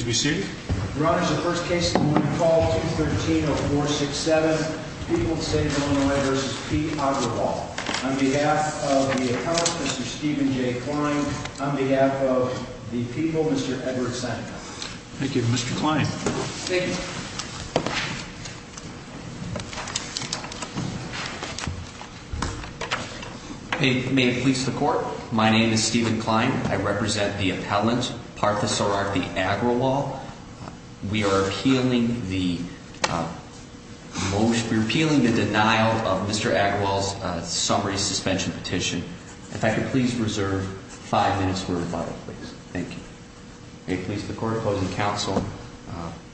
On behalf of the appellant, Mr. Stephen J. Kline. On behalf of the people, Mr. Edward Seneca. Thank you. Mr. Kline. Thank you. May it please the court. My name is Stephen Kline. I represent the appellant, Parthasarathi Agrawal. We are appealing the motion, we're appealing the denial of Mr. Agrawal's summary suspension petition. If I could please reserve five minutes for rebuttal, please. Thank you. May it please the court. Opposing counsel.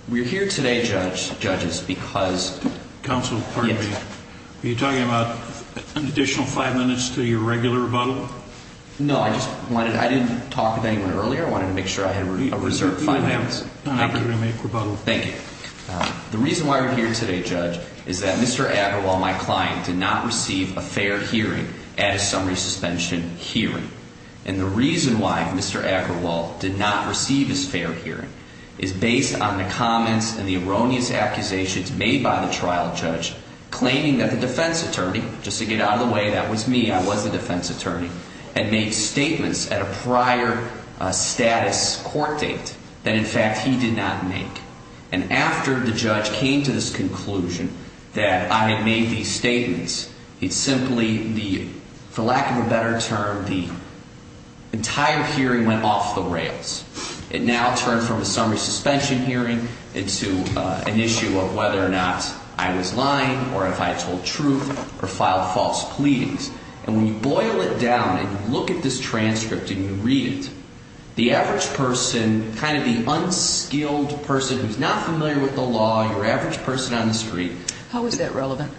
We're here today, judges, because... Counsel, pardon me. Were you talking about an additional five minutes to your regular rebuttal? No, I just wanted... I didn't talk with anyone earlier. I wanted to make sure I had a reserved five minutes. You don't have an opportunity to make rebuttal. Thank you. The reason why we're here today, judge, is that Mr. Agrawal, my client, did not receive a fair hearing at a summary suspension hearing. And the reason why Mr. Agrawal did not receive his fair hearing is based on the comments and the erroneous accusations made by the trial judge claiming that the defense attorney, just to get out of the way, that was me, I was the defense attorney, had made statements at a prior status court date that, in fact, he did not make. And after the judge came to this conclusion that I had made these statements, he simply, for lack of a better term, the entire hearing went off the rails. It now turned from a summary suspension hearing into an issue of whether or not I was lying or if I told truth or filed false pleadings. And when you boil it down and you look at this transcript and you read it, the average person, kind of the unskilled person who's not familiar with the law, your average person on the street... How is that relevant?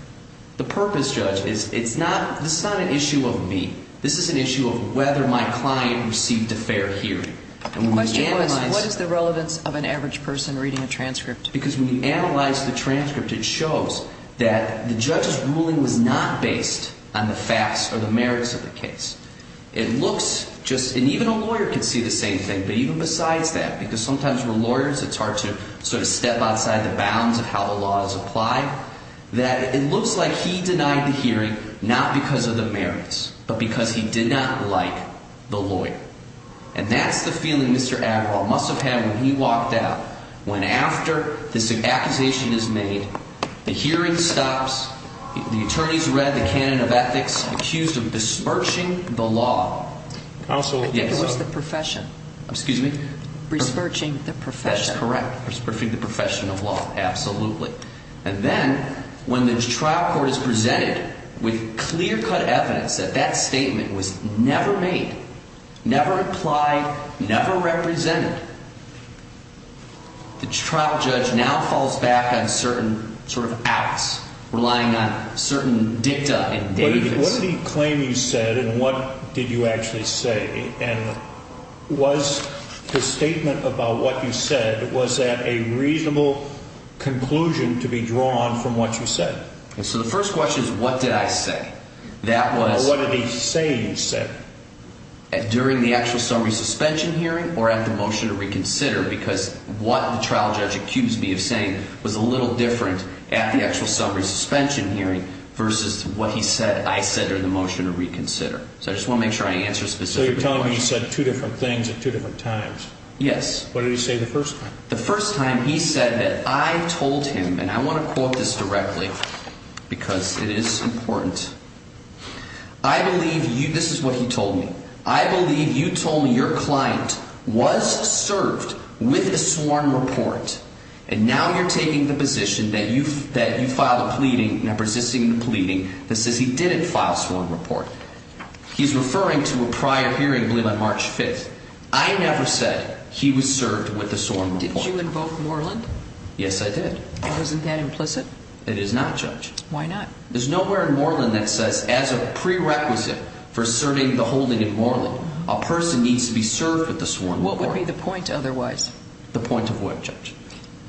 The purpose, Judge, is it's not, this is not an issue of me. This is an issue of whether my client received a fair hearing. The question was, what is the relevance of an average person reading a transcript? Because when you analyze the transcript, it shows that the judge's ruling was not based on the facts or the merits of the case. It looks just, and even a lawyer can see the same thing, but even besides that, because sometimes we're lawyers, it's hard to sort of step outside the bounds of how the law is applied, that it looks like he denied the hearing not because of the merits, but because he did not like the lawyer. And that's the feeling Mr. Agraw must have had when he walked out, when after this accusation is made, the hearing stops, the attorney's read the canon of ethics, accused of besmirching the law. I think it was the profession. Excuse me? Besmirching the profession. That's correct, besmirching the profession of law, absolutely. And then, when the trial court is presented with clear-cut evidence that that statement was never made, never applied, never represented, the trial judge now falls back on certain sort of acts, relying on certain dicta. What did he claim you said, and what did you actually say? And was the statement about what you said, was that a reasonable conclusion to be drawn from what you said? So the first question is, what did I say? Well, what did he say you said? During the actual summary suspension hearing or at the motion to reconsider, because what the trial judge accused me of saying was a little different at the actual summary suspension hearing versus what he said I said during the motion to reconsider. So I just want to make sure I answer a specific question. So you're telling me you said two different things at two different times? Yes. What did he say the first time? The first time he said that I told him, and I want to quote this directly because it is important. I believe you, this is what he told me. I believe you told me your client was served with a sworn report, and now you're taking the position that you filed a pleading, resisting the pleading, that says he didn't file a sworn report. He's referring to a prior hearing, I believe, on March 5th. I never said he was served with a sworn report. Did you invoke Moreland? Yes, I did. Isn't that implicit? It is not, Judge. Why not? There's nowhere in Moreland that says as a prerequisite for serving the holding in Moreland, a person needs to be served with a sworn report. What would be the point otherwise? The point of what, Judge?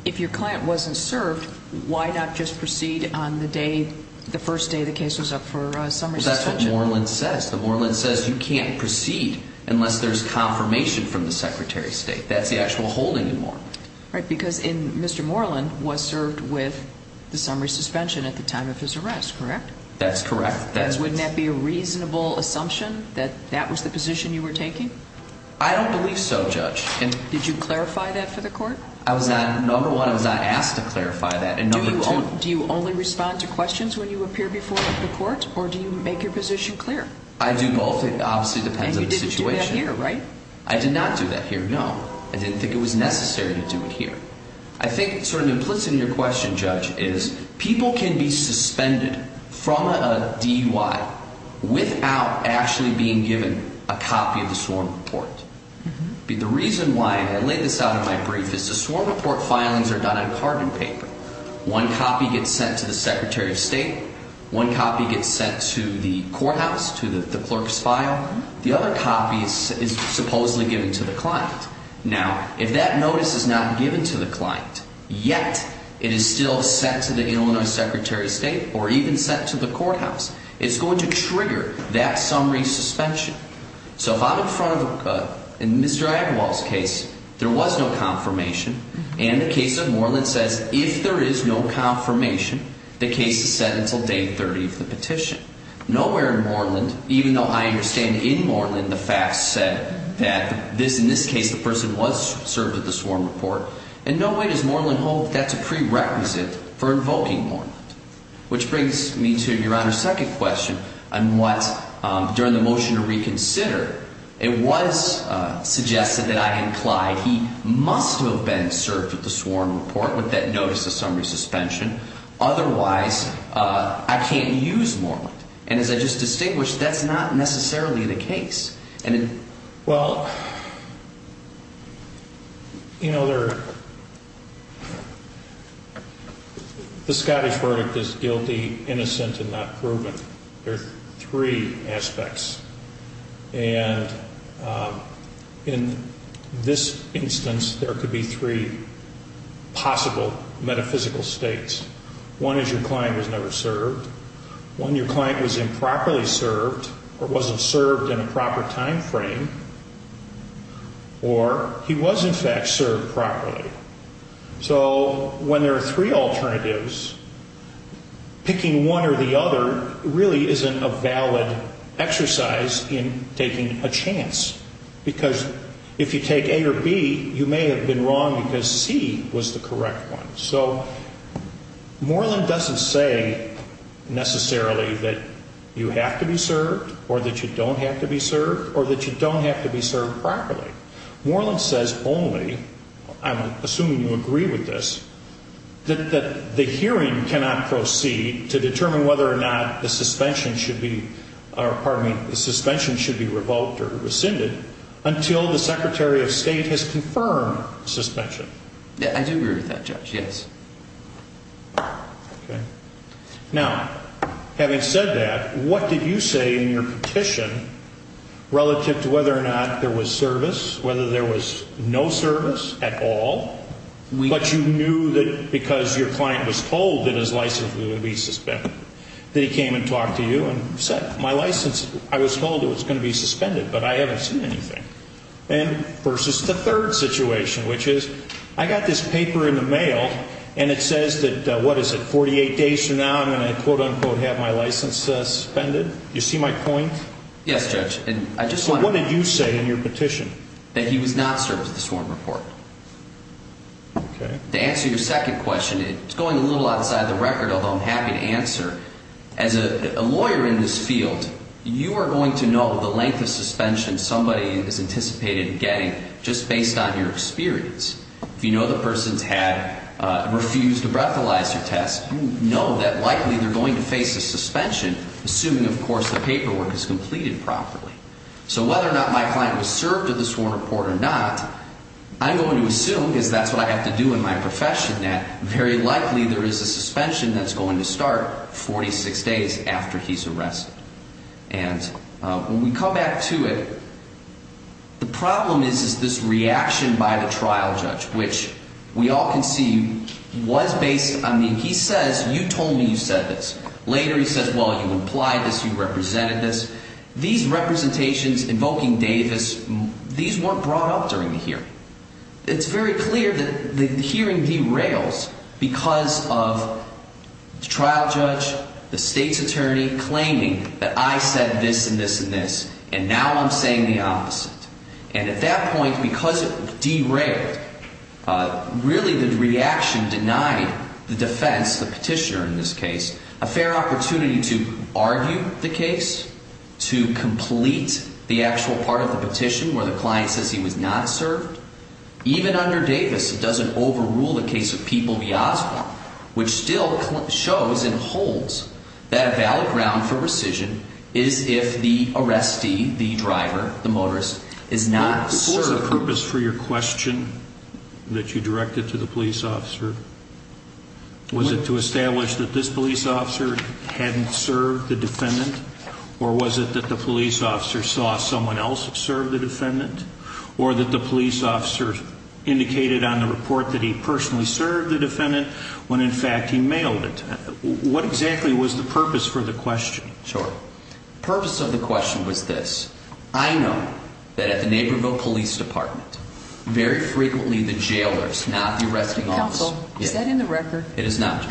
If your client wasn't served, why not just proceed on the day, the first day the case was up for summary suspension? That's what Moreland says. The Moreland says you can't proceed unless there's confirmation from the Secretary of State. That's the actual holding in Moreland. Right, because Mr. Moreland was served with the summary suspension at the time of his arrest, correct? That's correct. Wouldn't that be a reasonable assumption, that that was the position you were taking? I don't believe so, Judge. Did you clarify that for the court? Number one, I was not asked to clarify that. Do you only respond to questions when you appear before the court, or do you make your position clear? I do both. It obviously depends on the situation. And you didn't do that here, right? I did not do that here, no. I didn't think it was necessary to do it here. I think sort of implicit in your question, Judge, is people can be suspended from a DUI without actually being given a copy of the sworn report. The reason why, and I laid this out in my brief, is the sworn report filings are done on carbon paper. One copy gets sent to the Secretary of State. One copy gets sent to the courthouse, to the clerk's file. The other copy is supposedly given to the client. Now, if that notice is not given to the client, yet it is still sent to the Illinois Secretary of State or even sent to the courthouse, it's going to trigger that summary suspension. So if I'm in front of, in Mr. Agarwal's case, there was no confirmation, and the case of Moreland says if there is no confirmation, the case is set until day 30 of the petition. Nowhere in Moreland, even though I understand in Moreland the facts said that in this case the person was served with the sworn report, in no way does Moreland hold that's a prerequisite for invoking Moreland. Which brings me to Your Honor's second question on what, during the motion to reconsider, it was suggested that I implied he must have been served with the sworn report with that notice of summary suspension. Otherwise, I can't use Moreland. And as I just distinguished, that's not necessarily the case. Well, you know, the Scottish verdict is guilty, innocent, and not proven. There are three aspects. And in this instance, there could be three possible metaphysical states. One is your client was never served. One, your client was improperly served or wasn't served in a proper time frame. Or he was, in fact, served properly. So when there are three alternatives, picking one or the other really isn't a valid exercise in taking a chance. Because if you take A or B, you may have been wrong because C was the correct one. So Moreland doesn't say necessarily that you have to be served or that you don't have to be served or that you don't have to be served properly. Moreland says only, I'm assuming you agree with this, that the hearing cannot proceed to determine whether or not the suspension should be revoked or rescinded until the Secretary of State has confirmed suspension. I do agree with that, Judge, yes. Okay. Now, having said that, what did you say in your petition relative to whether or not there was service, whether there was no service at all, but you knew that because your client was told that his license would be suspended, that he came and talked to you and said, my license, I was told it was going to be suspended, but I haven't seen anything. And versus the third situation, which is, I got this paper in the mail and it says that, what is it, 48 days from now I'm going to, quote, unquote, have my license suspended. You see my point? Yes, Judge. So what did you say in your petition? That he was not served with the sworn report. Okay. To answer your second question, it's going a little outside the record, although I'm happy to answer. As a lawyer in this field, you are going to know the length of suspension somebody is anticipated getting just based on your experience. If you know the person's had, refused a breathalyzer test, you know that likely they're going to face a suspension, assuming, of course, the paperwork is completed properly. So whether or not my client was served with the sworn report or not, I'm going to assume, because that's what I have to do in my profession, that very likely there is a suspension that's going to start 46 days after he's arrested. And when we come back to it, the problem is this reaction by the trial judge, which we all can see was based on the, he says, you told me you said this. Later he says, well, you implied this, you represented this. These representations invoking Davis, these weren't brought up during the hearing. It's very clear that the hearing derails because of the trial judge, the state's attorney claiming that I said this and this and this, and now I'm saying the opposite. And at that point, because it derailed, really the reaction denied the defense, the petitioner in this case, a fair opportunity to argue the case, to complete the actual part of the petition where the client says he was not served. Even under Davis, it doesn't overrule the case of Peoples v. Oswald, which still shows and holds that a valid ground for rescission is if the arrestee, the driver, the motorist is not served. What was the purpose for your question that you directed to the police officer? Was it to establish that this police officer hadn't served the defendant? Or was it that the police officer saw someone else serve the defendant? Or that the police officer indicated on the report that he personally served the defendant when in fact he mailed it? What exactly was the purpose for the question? The purpose of the question was this. I know that at the Naperville Police Department, very frequently the jailers, not the arresting officers... Counsel, is that in the record? It is not.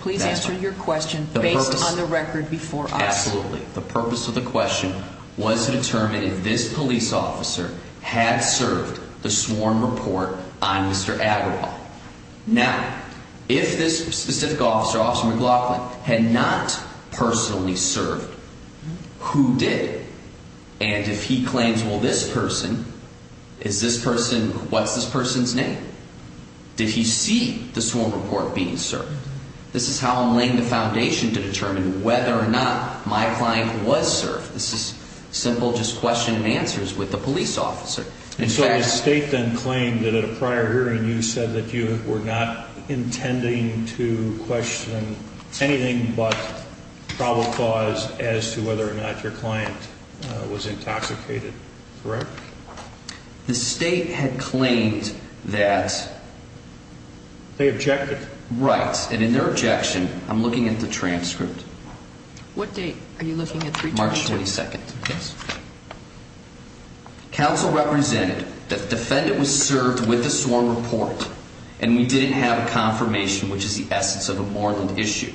Please answer your question based on the record before us. Absolutely. The purpose of the question was to determine if this police officer had served the sworn report on Mr. Agrawal. Now, if this specific officer, Officer McLaughlin, had not personally served, who did? And if he claims, well, this person, is this person... what's this person's name? Did he see the sworn report being served? This is how I'm laying the foundation to determine whether or not my client was served. This is simple, just question and answers with the police officer. And so the state then claimed that at a prior hearing you said that you were not intending to question anything but probable cause as to whether or not your client was intoxicated, correct? The state had claimed that... They objected. Right. And in their objection, I'm looking at the transcript. What date are you looking at? March 22nd. Yes. Counsel represented that the defendant was served with the sworn report and we didn't have a confirmation, which is the essence of a Moreland issue.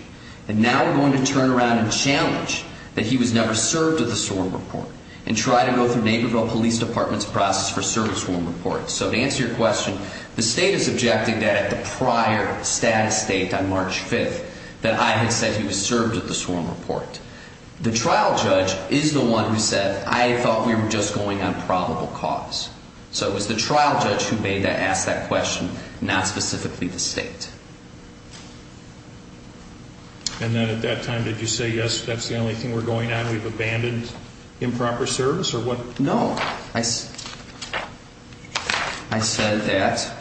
And now we're going to turn around and challenge that he was never served with the sworn report and try to go through Neighborville Police Department's process for serving sworn reports. So to answer your question, the state is objecting that at the prior status date on March 5th that I had said he was served with the sworn report. The trial judge is the one who said, I thought we were just going on probable cause. So it was the trial judge who made that, asked that question, not specifically the state. And then at that time, did you say, yes, that's the only thing we're going on? We've abandoned improper service or what? No. I said that.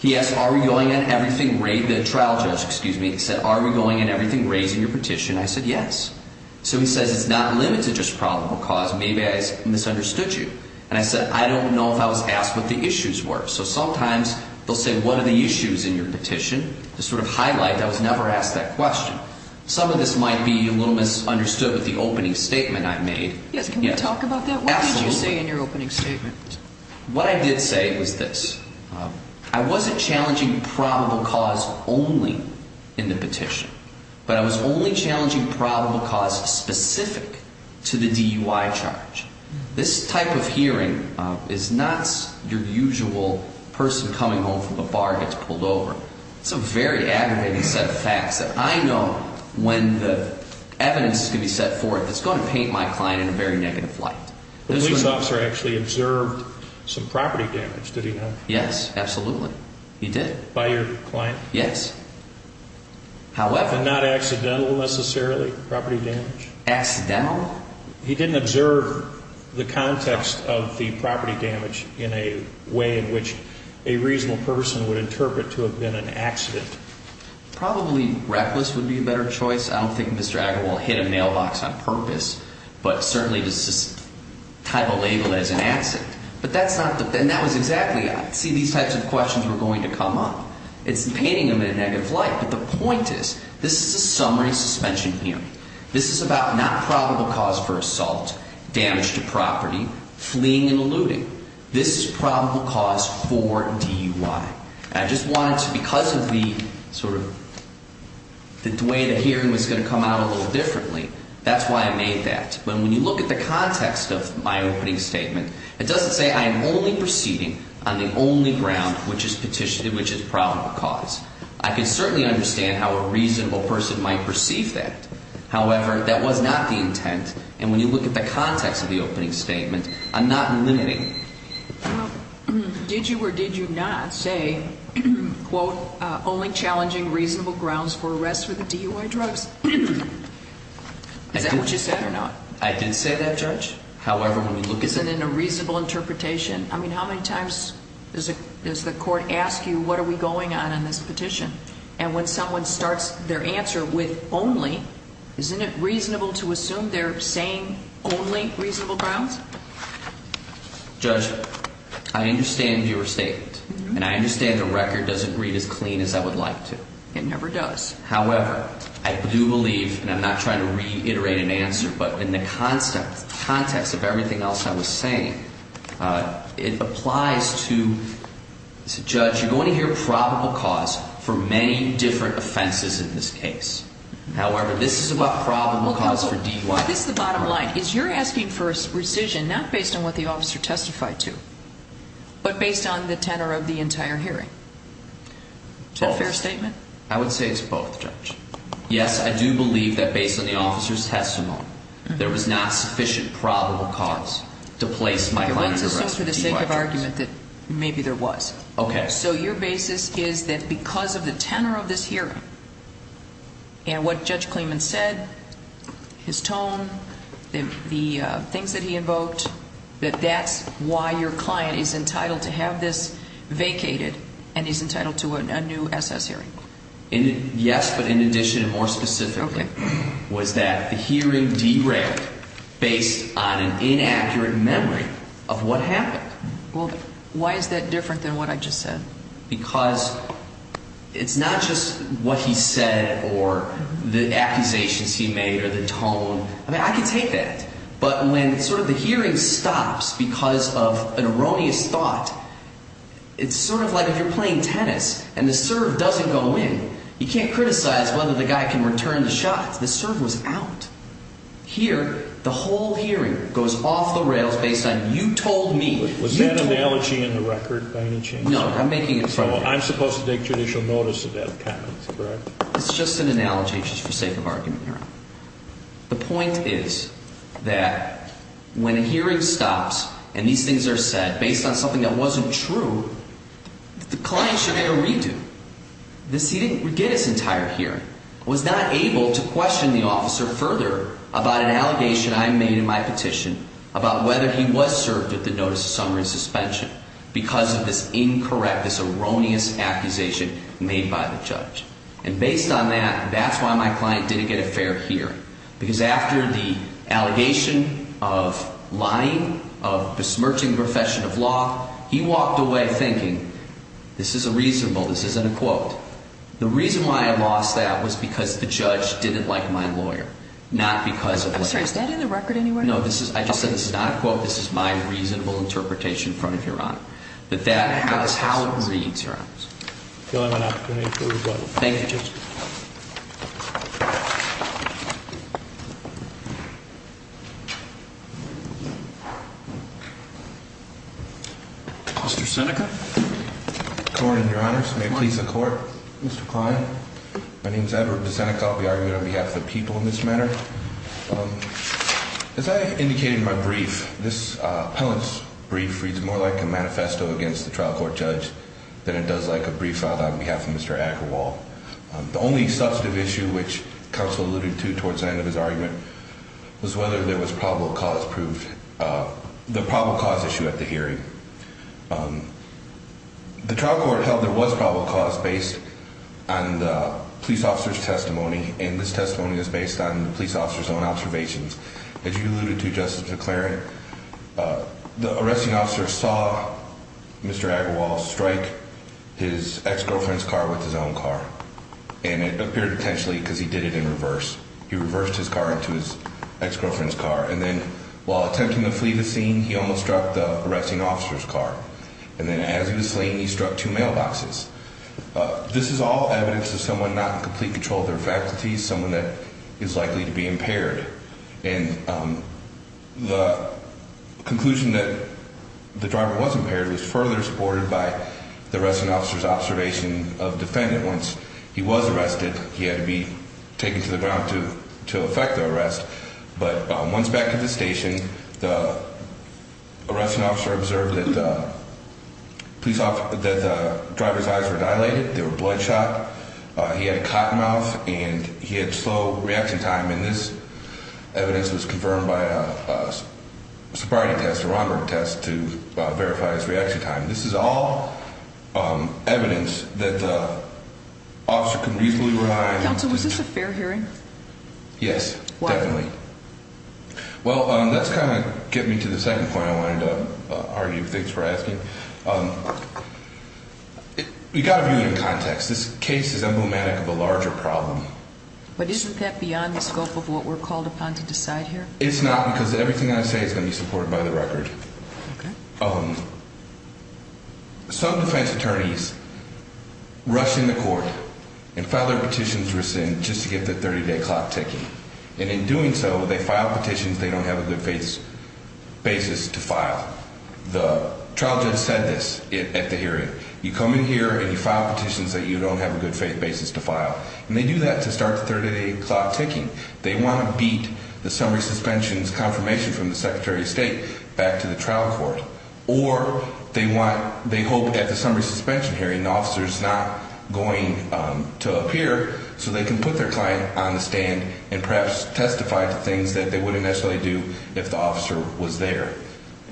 He asked, are we going on everything? The trial judge, excuse me, said, are we going on everything raised in your petition? I said, yes. So he says, it's not limited to just probable cause. Maybe I misunderstood you. And I said, I don't know if I was asked what the issues were. So sometimes they'll say, what are the issues in your petition? To sort of highlight that I was never asked that question. Some of this might be a little misunderstood with the opening statement I made. Can you talk about that? What did you say in your opening statement? What I did say was this. I wasn't challenging probable cause only in the petition. But I was only challenging probable cause specific to the DUI charge. This type of hearing is not your usual person coming home from the bar gets pulled over. It's a very aggravating set of facts that I know when the evidence is going to be set forth, it's going to paint my client in a very negative light. The police officer actually observed some property damage, did he not? Yes, absolutely. He did. By your client? Yes. However. And not accidental, necessarily, property damage? Accidental? He didn't observe the context of the property damage in a way in which a reasonable person would interpret to have been an accident. Probably reckless would be a better choice. I don't think Mr. Agarwal hit a mailbox on purpose, but certainly does this type of label as an accident. But that's not, and that was exactly, see, these types of questions were going to come up. It's painting him in a negative light. But the point is, this is a summary suspension hearing. This is about not probable cause for assault, damage to property, fleeing and eluding. This is probable cause for DUI. And I just wanted to, because of the sort of, the way the hearing was going to come out a little differently, that's why I made that. But when you look at the context of my opening statement, it doesn't say I am only proceeding on the only ground which is petitioned, which is probable cause. I can certainly understand how a reasonable person might perceive that. However, that was not the intent. And when you look at the context of the opening statement, I'm not limiting. Well, did you or did you not say, quote, only challenging reasonable grounds for arrest for the DUI drugs? Is that what you said or not? I did say that, Judge. However, when we look at it. Is it in a reasonable interpretation? I mean, how many times does the court ask you what are we going on in this petition? And when someone starts their answer with only, isn't it reasonable to assume they're saying only reasonable grounds? Judge, I understand your statement, and I understand the record doesn't read as clean as I would like to. It never does. However, I do believe, and I'm not trying to reiterate an answer, but in the context of everything else I was saying, it applies to, Judge, you're going to hear probable cause for many different offenses in this case. However, this is about probable cause for DUI. If this is the bottom line, is you're asking for rescission not based on what the officer testified to, but based on the tenor of the entire hearing? Is that a fair statement? I would say it's both, Judge. Yes, I do believe that based on the officer's testimony, there was not sufficient probable cause to place my client under arrest for DUI drugs. It wasn't so for the sake of argument that maybe there was. Okay. So your basis is that because of the tenor of this hearing, and what Judge Kleeman said, his tone, the things that he invoked, that that's why your client is entitled to have this vacated, and he's entitled to a new SS hearing? Yes, but in addition, more specifically, was that the hearing derailed based on an inaccurate memory of what happened. Well, why is that different than what I just said? Because it's not just what he said or the accusations he made or the tone. I mean, I can take that, but when sort of the hearing stops because of an erroneous thought, it's sort of like if you're playing tennis and the serve doesn't go in. You can't criticize whether the guy can return the shot. The serve was out. Here, the whole hearing goes off the rails based on you told me. Was that analogy in the record by any chance? No, I'm making it clear. I'm supposed to take judicial notice of that comment, correct? It's just an analogy just for sake of argument here. The point is that when a hearing stops and these things are said based on something that wasn't true, the client should get a redo. He didn't get his entire hearing. I was not able to question the officer further about an allegation I made in my petition about whether he was served with the notice of summary suspension because of this incorrect, this erroneous accusation made by the judge. And based on that, that's why my client didn't get a fair hearing. Because after the allegation of lying, of besmirching the profession of law, he walked away thinking, this is a reasonable, this isn't a quote. The reason why I lost that was because the judge didn't like my lawyer, not because of what he said. I'm sorry, is that in the record anywhere? No, I just said this is not a quote. This is my reasonable interpretation in front of Your Honor. But that's how it reads, Your Honor. Thank you, Justice. Mr. Seneca. Good morning, Your Honors. May it please the Court. Mr. Klein. My name is Edward DeSeneca. I'll be arguing on behalf of the people in this matter. As I indicated in my brief, this appellant's brief reads more like a manifesto against the trial court judge than it does like a brief filed on behalf of Mr. Ackerwall. The only substantive issue, which counsel alluded to towards the end of his argument, was whether there was probable cause proof, the probable cause issue at the hearing. The trial court held there was probable cause based on the police officer's testimony, and this testimony is based on the police officer's own observations. As you alluded to, Justice McClaren, the arresting officer saw Mr. Ackerwall strike his ex-girlfriend's car with his own car. And it appeared potentially because he did it in reverse. He reversed his car into his ex-girlfriend's car. And then while attempting to flee the scene, he almost struck the arresting officer's car. And then as he was fleeing, he struck two mailboxes. This is all evidence of someone not in complete control of their faculties, someone that is likely to be impaired. And the conclusion that the driver was impaired was further supported by the arresting officer's observation of the defendant. Once he was arrested, he had to be taken to the ground to effect the arrest. But once back at the station, the arresting officer observed that the driver's eyes were dilated. They were bloodshot. He had a cotton mouth, and he had slow reaction time. And this evidence was confirmed by a sobriety test, a Romberg test, to verify his reaction time. This is all evidence that the officer could reasonably rely on. Counsel, was this a fair hearing? Yes, definitely. Well, that's kind of getting me to the second point I wanted to argue. Thanks for asking. You've got to view it in context. This case is emblematic of a larger problem. But isn't that beyond the scope of what we're called upon to decide here? It's not because everything I say is going to be supported by the record. Some defense attorneys rush in the court and file their petitions rescind just to get the 30-day clock ticking. And in doing so, they file petitions they don't have a good faith basis to file. The trial judge said this at the hearing. You come in here, and you file petitions that you don't have a good faith basis to file. And they do that to start the 30-day clock ticking. They want to beat the summary suspension's confirmation from the Secretary of State back to the trial court. Or they hope at the summary suspension hearing the officer is not going to appear so they can put their client on the stand and perhaps testify to things that they wouldn't necessarily do if the officer was there.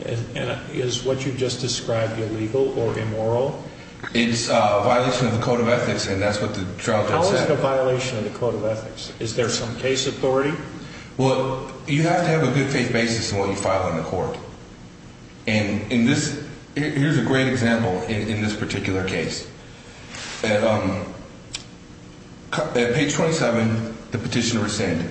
And is what you just described illegal or immoral? It's a violation of the code of ethics, and that's what the trial judge said. How is it a violation of the code of ethics? Is there some case authority? Well, you have to have a good faith basis in what you file in the court. And here's a great example in this particular case. At page 27, the petition rescind.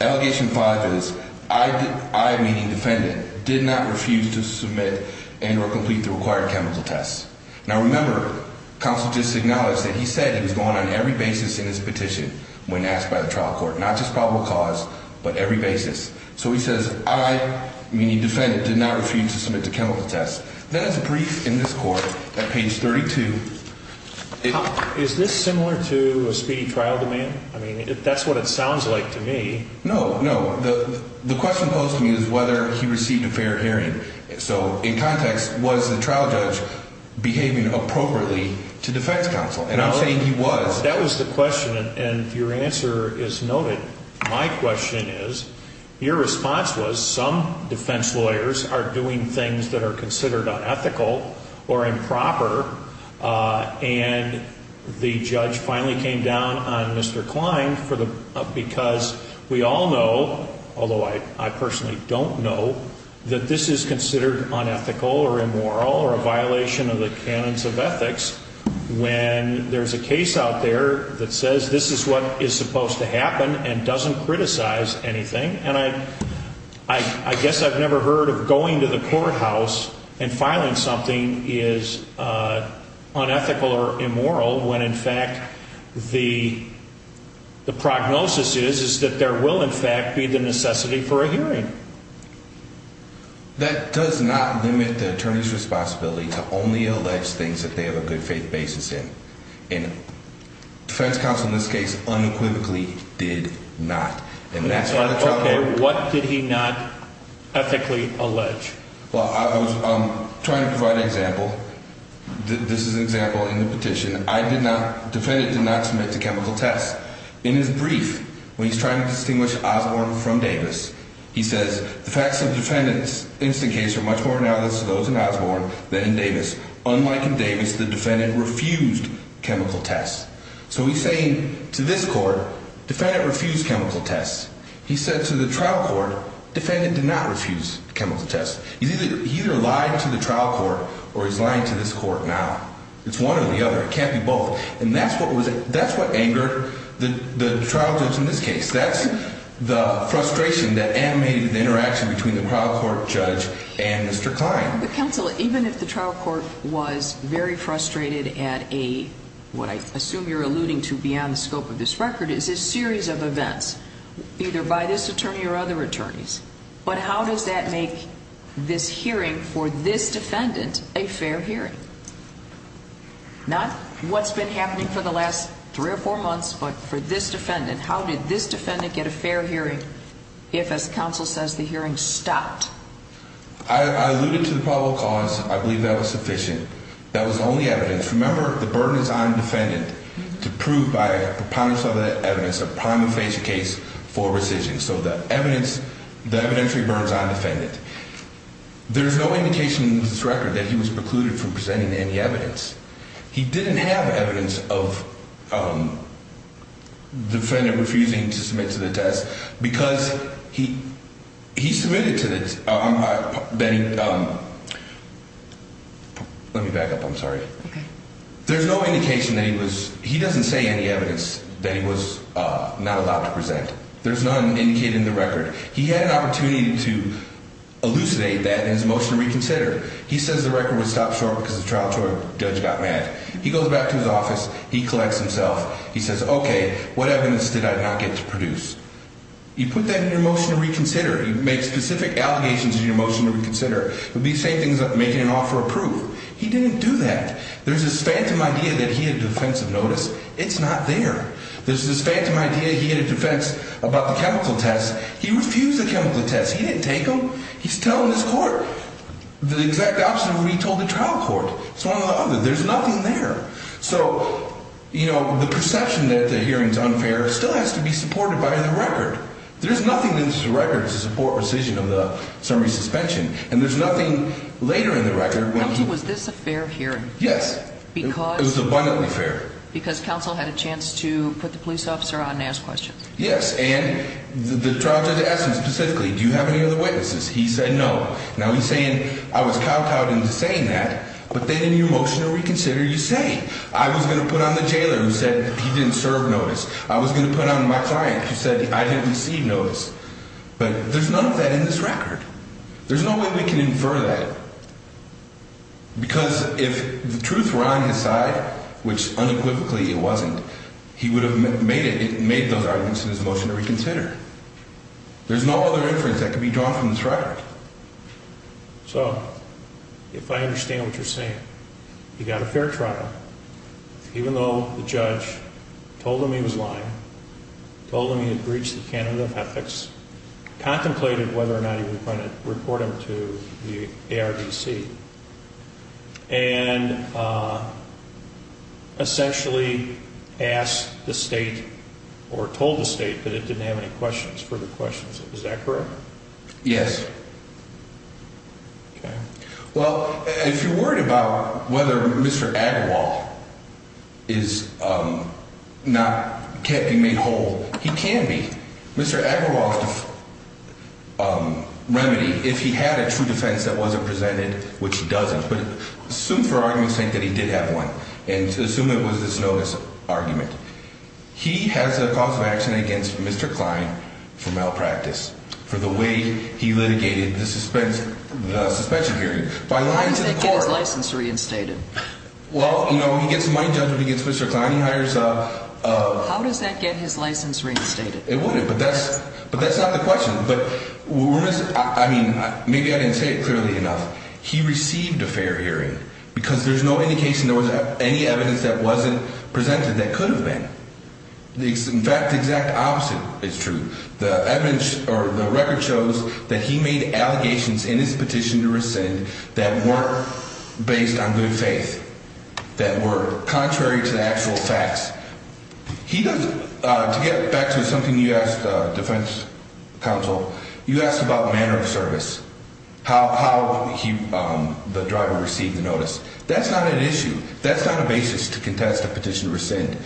Allegation 5 is, I, meaning defendant, did not refuse to submit and or complete the required chemical tests. Now, remember, counsel just acknowledged that he said he was going on every basis in his petition when asked by the trial court, not just probable cause but every basis. So he says, I, meaning defendant, did not refuse to submit to chemical tests. Then as a brief in this court at page 32. Is this similar to a speedy trial demand? I mean, that's what it sounds like to me. No, no. The question posed to me is whether he received a fair hearing. So in context, was the trial judge behaving appropriately to defense counsel? And I'm saying he was. That was the question, and your answer is noted. My question is, your response was some defense lawyers are doing things that are considered unethical or improper, and the judge finally came down on Mr. Klein because we all know, although I personally don't know, that this is considered unethical or immoral or a violation of the canons of ethics when there's a case out there that says this is what is supposed to happen and doesn't criticize anything. And I guess I've never heard of going to the courthouse and filing something is unethical or immoral when, in fact, the prognosis is that there will, in fact, be the necessity for a hearing. That does not limit the attorney's responsibility to only allege things that they have a good faith basis in. And defense counsel in this case unequivocally did not. Okay, what did he not ethically allege? This is an example in the petition. Defendant did not submit to chemical tests. In his brief, when he's trying to distinguish Osborne from Davis, he says, the facts of defendant's instant case are much more analogous to those in Osborne than in Davis. Unlike in Davis, the defendant refused chemical tests. So he's saying to this court, defendant refused chemical tests. He said to the trial court, defendant did not refuse chemical tests. He either lied to the trial court or he's lying to this court now. It's one or the other. It can't be both. And that's what angered the trial judge in this case. That's the frustration that animated the interaction between the trial court judge and Mr. Kline. But, counsel, even if the trial court was very frustrated at a, what I assume you're alluding to beyond the scope of this record, is a series of events, either by this attorney or other attorneys. But how does that make this hearing for this defendant a fair hearing? Not what's been happening for the last three or four months, but for this defendant, how did this defendant get a fair hearing if, as counsel says, the hearing stopped? I alluded to the probable cause. I believe that was sufficient. That was the only evidence. Remember, the burden is on the defendant to prove by a preponderance of that evidence a primal facial case for rescission. So the evidence, the evidentiary burden is on the defendant. There's no indication in this record that he was precluded from presenting any evidence. He didn't have evidence of the defendant refusing to submit to the test because he submitted to the test. Let me back up. I'm sorry. There's no indication that he was, he doesn't say any evidence that he was not allowed to present. There's none indicated in the record. He had an opportunity to elucidate that in his motion to reconsider. He says the record was stopped short because the trial court judge got mad. He goes back to his office. He collects himself. He says, okay, what evidence did I not get to produce? You put that in your motion to reconsider. You make specific allegations in your motion to reconsider. You'll be saying things like making an offer of proof. He didn't do that. There's this phantom idea that he had a defense of notice. It's not there. There's this phantom idea he had a defense about the chemical test. He refused the chemical test. He didn't take them. He's telling his court the exact opposite of what he told the trial court. It's one or the other. There's nothing there. So, you know, the perception that the hearing is unfair still has to be supported by the record. There's nothing in this record to support rescission of the summary suspension, and there's nothing later in the record. Counsel, was this a fair hearing? Yes. It was abundantly fair. Because counsel had a chance to put the police officer on and ask questions. Yes, and the trial judge asked him specifically, do you have any other witnesses? He said no. Now, he's saying I was cow-cowed into saying that, but then in your motion to reconsider, you say. I was going to put on the jailer who said he didn't serve notice. I was going to put on my client who said I didn't receive notice. But there's none of that in this record. There's no way we can infer that. Because if the truth were on his side, which unequivocally it wasn't, he would have made those arguments in his motion to reconsider. There's no other inference that could be drawn from this record. So, if I understand what you're saying, you got a fair trial, even though the judge told him he was lying, told him he had breached the canon of ethics, contemplated whether or not he was going to report him to the ARDC, and essentially asked the state or told the state that it didn't have any further questions. Is that correct? Yes. Okay. Well, if you're worried about whether Mr. Agarwal can't be made whole, he can be. Mr. Agarwal's remedy, if he had a true defense that wasn't presented, which he doesn't, but assume for argument's sake that he did have one, and assume it was this notice argument. He has a cause of action against Mr. Klein for malpractice, for the way he litigated the suspension hearing. How does that get his license reinstated? Well, you know, he gets a money judgment against Mr. Klein. How does that get his license reinstated? It wouldn't, but that's not the question. I mean, maybe I didn't say it clearly enough. He received a fair hearing because there's no indication there was any evidence that wasn't presented that could have been. In fact, the exact opposite is true. The record shows that he made allegations in his petition to rescind that weren't based on good faith, that were contrary to the actual facts. To get back to something you asked, defense counsel, you asked about manner of service, how the driver received the notice. That's not an issue. That's not a basis to contest a petition to rescind.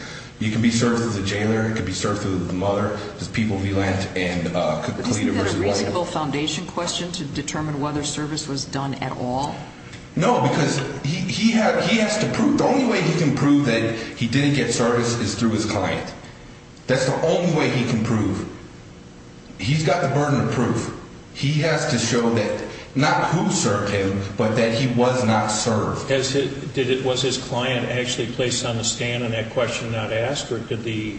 You can be served through the jailer. You can be served through the mother. There's people we lent and completed. Isn't that a reasonable foundation question to determine whether service was done at all? No, because he has to prove. The only way he can prove that he didn't get service is through his client. That's the only way he can prove. He's got the burden of proof. He has to show that not who served him, but that he was not served. Was his client actually placed on the stand on that question not asked, or did the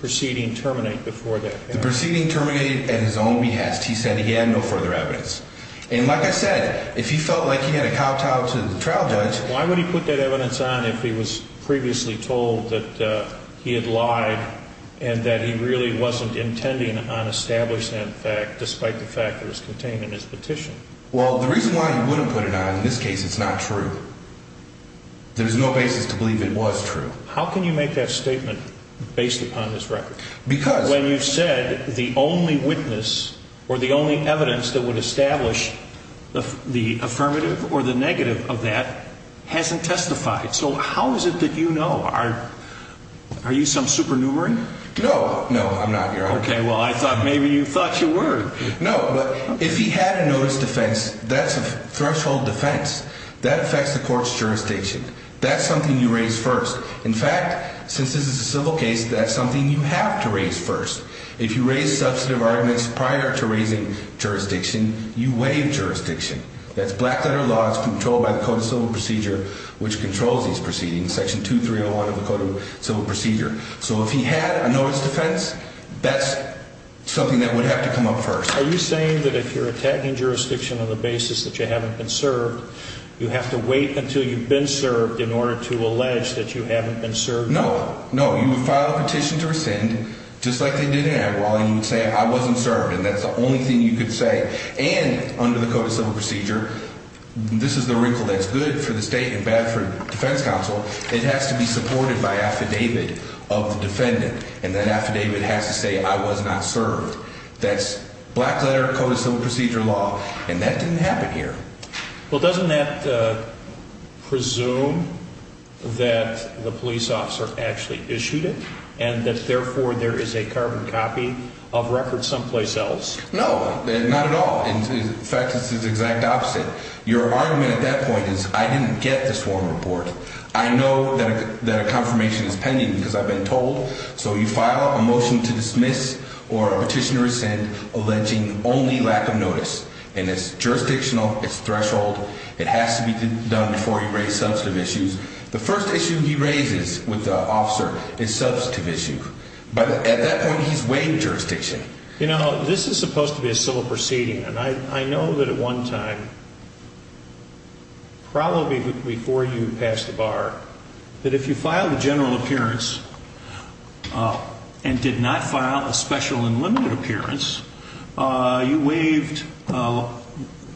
proceeding terminate before that? The proceeding terminated at his own behest. He said he had no further evidence. And like I said, if he felt like he had a kowtow to the trial judge. Why would he put that evidence on if he was previously told that he had lied and that he really wasn't intending on establishing that fact, despite the fact it was contained in his petition? Well, the reason why he wouldn't put it on in this case, it's not true. There's no basis to believe it was true. How can you make that statement based upon this record? Because. When you said the only witness or the only evidence that would establish the affirmative or the negative of that hasn't testified. So how is it that you know? Are you some supernumerary? No, no, I'm not, Your Honor. Okay, well, I thought maybe you thought you were. No, but if he had a notice defense, that's a threshold defense. That affects the court's jurisdiction. That's something you raise first. In fact, since this is a civil case, that's something you have to raise first. If you raise substantive arguments prior to raising jurisdiction, you waive jurisdiction. That's black letter laws controlled by the Code of Civil Procedure, which controls these proceedings. Section 2301 of the Code of Civil Procedure. So if he had a notice defense, that's something that would have to come up first. Are you saying that if you're attacking jurisdiction on the basis that you haven't been served, you have to wait until you've been served in order to allege that you haven't been served? No, no. You would file a petition to rescind, just like they did in Agrawal, and you would say, I wasn't served. And that's the only thing you could say. And under the Code of Civil Procedure, this is the wrinkle that's good for the state and bad for defense counsel. It has to be supported by affidavit of the defendant, and that affidavit has to say, I was not served. That's black letter Code of Civil Procedure law, and that didn't happen here. Well, doesn't that presume that the police officer actually issued it and that, therefore, there is a carbon copy of records someplace else? No, not at all. In fact, it's the exact opposite. Your argument at that point is, I didn't get this warm report. I know that a confirmation is pending because I've been told. So you file a motion to dismiss or a petition to rescind alleging only lack of notice. And it's jurisdictional. It's threshold. It has to be done before you raise substantive issues. The first issue he raises with the officer is substantive issue. But at that point, he's weighing jurisdiction. You know, this is supposed to be a civil proceeding. And I know that at one time, probably before you passed the bar, that if you filed a general appearance and did not file a special and limited appearance, you waived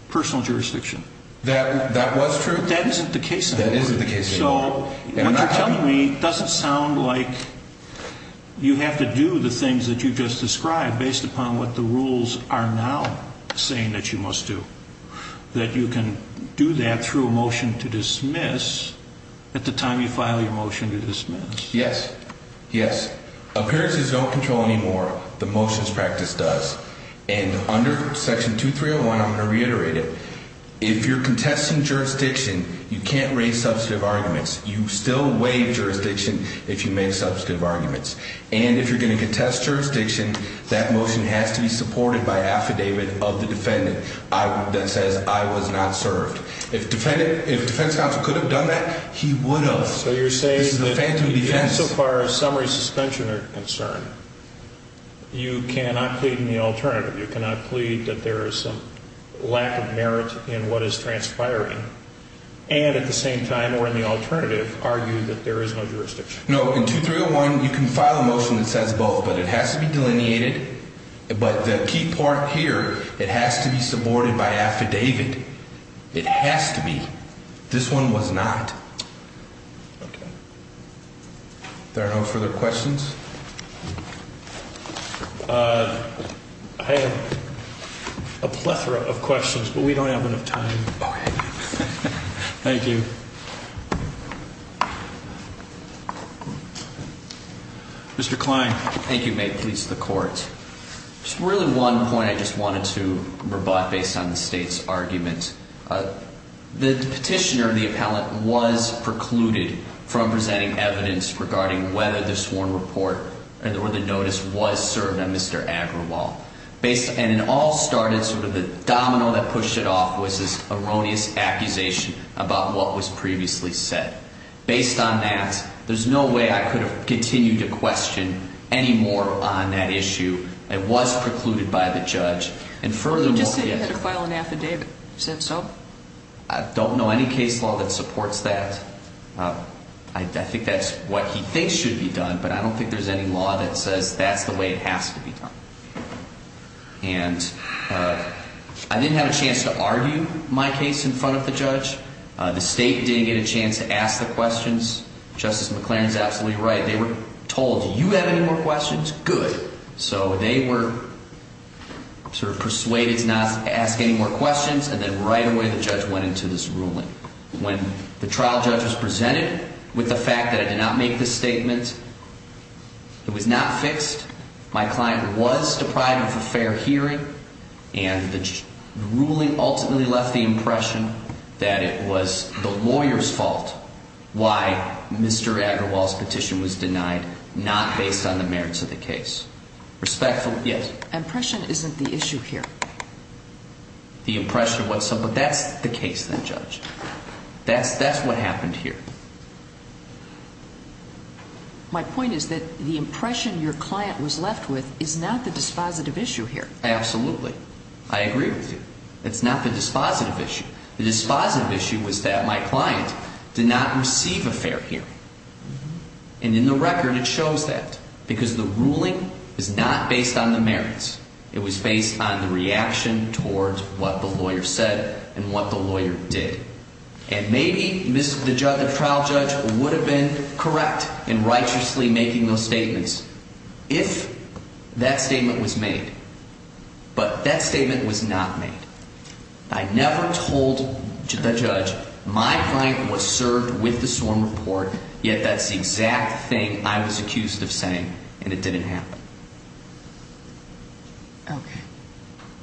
personal jurisdiction. That was true. That isn't the case. That isn't the case. So what you're telling me doesn't sound like you have to do the things that you just described based upon what the rules are now saying that you must do. That you can do that through a motion to dismiss at the time you file your motion to dismiss. Yes. Yes. Appearances don't control anymore. The motions practice does. And under section 2301, I'm going to reiterate it. If you're contesting jurisdiction, you can't raise substantive arguments. You still waive jurisdiction if you make substantive arguments. And if you're going to contest jurisdiction, that motion has to be supported by affidavit of the defendant that says I was not served. If defense counsel could have done that, he would have. So you're saying that even so far as summary suspension are concerned, you cannot plead in the open. In the alternative, you cannot plead that there is some lack of merit in what is transpiring. And at the same time or in the alternative, argue that there is no jurisdiction. No, in 2301, you can file a motion that says both, but it has to be delineated. But the key part here, it has to be supported by affidavit. It has to be. This one was not. Okay. There are no further questions. I have a plethora of questions, but we don't have enough time. Thank you. Mr. Klein. Thank you. May it please the court. Just really one point I just wanted to rebut based on the state's argument. The petitioner, the appellant, was precluded from presenting evidence regarding whether the sworn report or the notice was served on Mr. Agrawal. And it all started sort of the domino that pushed it off was this erroneous accusation about what was previously said. Based on that, there's no way I could have continued to question any more on that issue. I'm just saying you had to file an affidavit. Is that so? I don't know any case law that supports that. I think that's what he thinks should be done, but I don't think there's any law that says that's the way it has to be done. And I didn't have a chance to argue my case in front of the judge. The state didn't get a chance to ask the questions. Justice McLaren is absolutely right. They were told, do you have any more questions? Good. So they were sort of persuaded to not ask any more questions, and then right away the judge went into this ruling. When the trial judge was presented with the fact that I did not make this statement, it was not fixed. My client was deprived of a fair hearing. And the ruling ultimately left the impression that it was the lawyer's fault why Mr. Agrawal's petition was denied, not based on the merits of the case. Respectfully, yes? Impression isn't the issue here. The impression, but that's the case then, Judge. That's what happened here. My point is that the impression your client was left with is not the dispositive issue here. Absolutely. I agree with you. It's not the dispositive issue. The dispositive issue was that my client did not receive a fair hearing. And in the record it shows that. Because the ruling is not based on the merits. It was based on the reaction towards what the lawyer said and what the lawyer did. And maybe the trial judge would have been correct in righteously making those statements if that statement was made. But that statement was not made. I never told the judge my client was served with the sworn report, yet that's the exact thing I was accused of saying, and it didn't happen. Okay.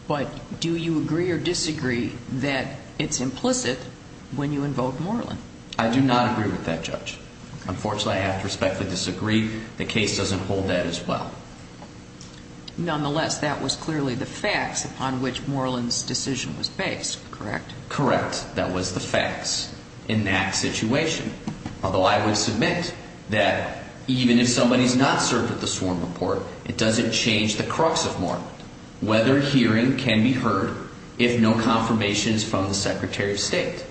But do you agree or disagree that it's implicit when you invoke Moreland? I do not agree with that, Judge. Unfortunately, I have to respectfully disagree. The case doesn't hold that as well. Nonetheless, that was clearly the facts upon which Moreland's decision was based, correct? Correct. That was the facts in that situation. Although I would submit that even if somebody's not served with the sworn report, it doesn't change the crux of Moreland. Whether hearing can be heard if no confirmation is from the Secretary of State.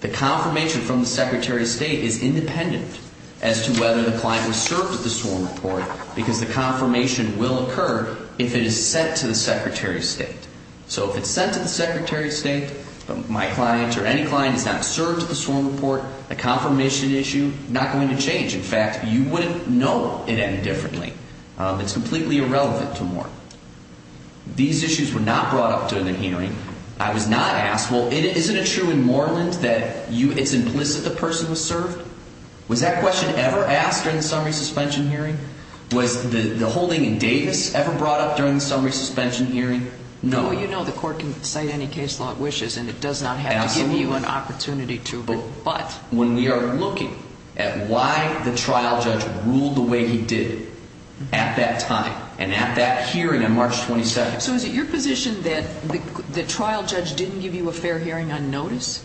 The confirmation from the Secretary of State is independent as to whether the client was served with the sworn report because the confirmation will occur if it is sent to the Secretary of State. So if it's sent to the Secretary of State, but my client or any client is not served with the sworn report, the confirmation issue is not going to change. In fact, you wouldn't know it any differently. It's completely irrelevant to Moreland. I was not asked, well, isn't it true in Moreland that it's implicit the person was served? Was that question ever asked during the summary suspension hearing? Was the holding in Davis ever brought up during the summary suspension hearing? No. Well, you know the court can cite any case law it wishes and it does not have to give you an opportunity to. But when we are looking at why the trial judge ruled the way he did at that time and at that hearing on March 27th. So is it your position that the trial judge didn't give you a fair hearing on notice?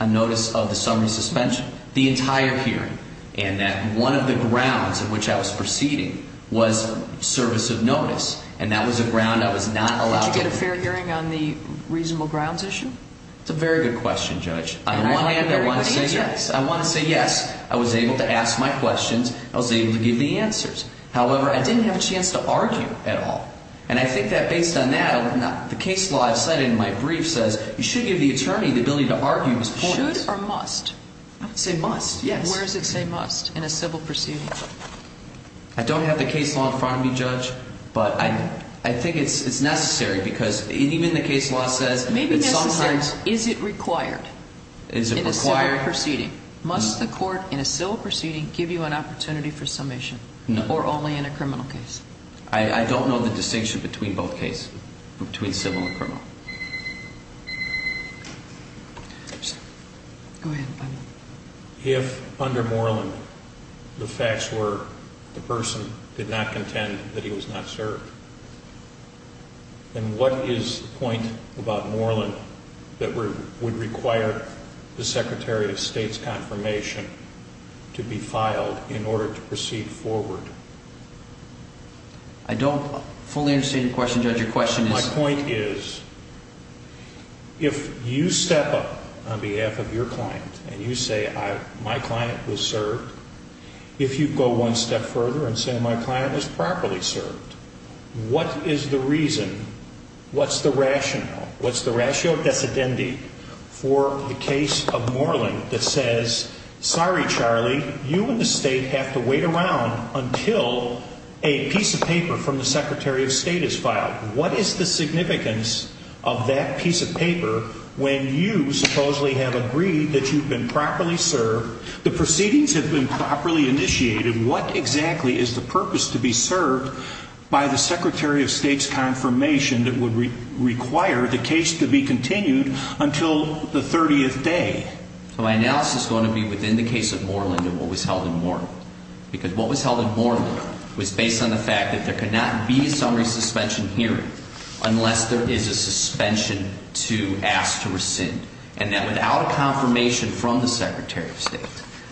On notice of the summary suspension? The entire hearing. And that one of the grounds on which I was proceeding was service of notice. And that was a ground I was not allowed to go to. Did you get a fair hearing on the reasonable grounds issue? That's a very good question, Judge. On the one hand, I want to say yes. I want to say yes. I was able to ask my questions. I was able to give the answers. However, I didn't have a chance to argue at all. And I think that based on that, the case law I've cited in my brief says you should give the attorney the ability to argue his points. Should or must? I would say must, yes. Where does it say must in a civil proceeding? I don't have the case law in front of me, Judge. But I think it's necessary because even the case law says it sometimes. Maybe necessary. Is it required? Is it required? In a civil proceeding. Must the court in a civil proceeding give you an opportunity for submission? No. Or only in a criminal case? I don't know the distinction between both cases, between civil and criminal. If under Moreland the facts were the person did not contend that he was not served, then what is the point about Moreland that would require the Secretary of State's confirmation to be filed in order to proceed forward? I don't fully understand your question, Judge. Your question is? My point is if you step up on behalf of your client and you say my client was served, if you go one step further and say my client was properly served, what is the reason? What's the rationale? What's the ratio of dissidentity for the case of Moreland that says, sorry, Charlie, you and the state have to wait around until a piece of paper from the Secretary of State is filed? What is the significance of that piece of paper when you supposedly have agreed that you've been properly served, the proceedings have been properly initiated, what exactly is the purpose to be served by the Secretary of State's confirmation that would require the case to be continued until the 30th day? My analysis is going to be within the case of Moreland and what was held in Moreland. Because what was held in Moreland was based on the fact that there could not be a summary suspension hearing unless there is a suspension to ask to rescind. And that without a confirmation from the Secretary of State,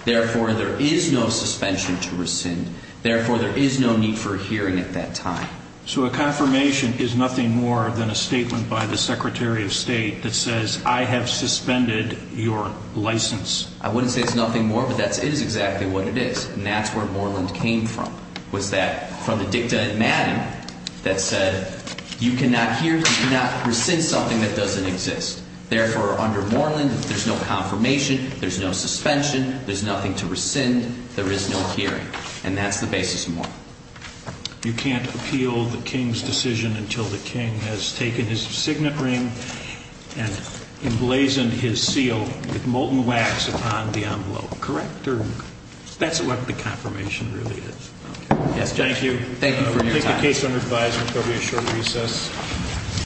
therefore, there is no suspension to rescind. Therefore, there is no need for a hearing at that time. So a confirmation is nothing more than a statement by the Secretary of State that says I have suspended your license? I wouldn't say it's nothing more, but that is exactly what it is. And that's where Moreland came from, was that from the dicta in Madden that said you cannot hear, you cannot rescind something that doesn't exist. Therefore, under Moreland, there's no confirmation, there's no suspension, there's nothing to rescind, there is no hearing. And that's the basis of Moreland. You can't appeal the King's decision until the King has taken his signet ring and emblazoned his seal with molten wax upon the envelope, correct? That's what the confirmation really is. Thank you. Thank you for your time. I take the case under advisement, there will be a short recess.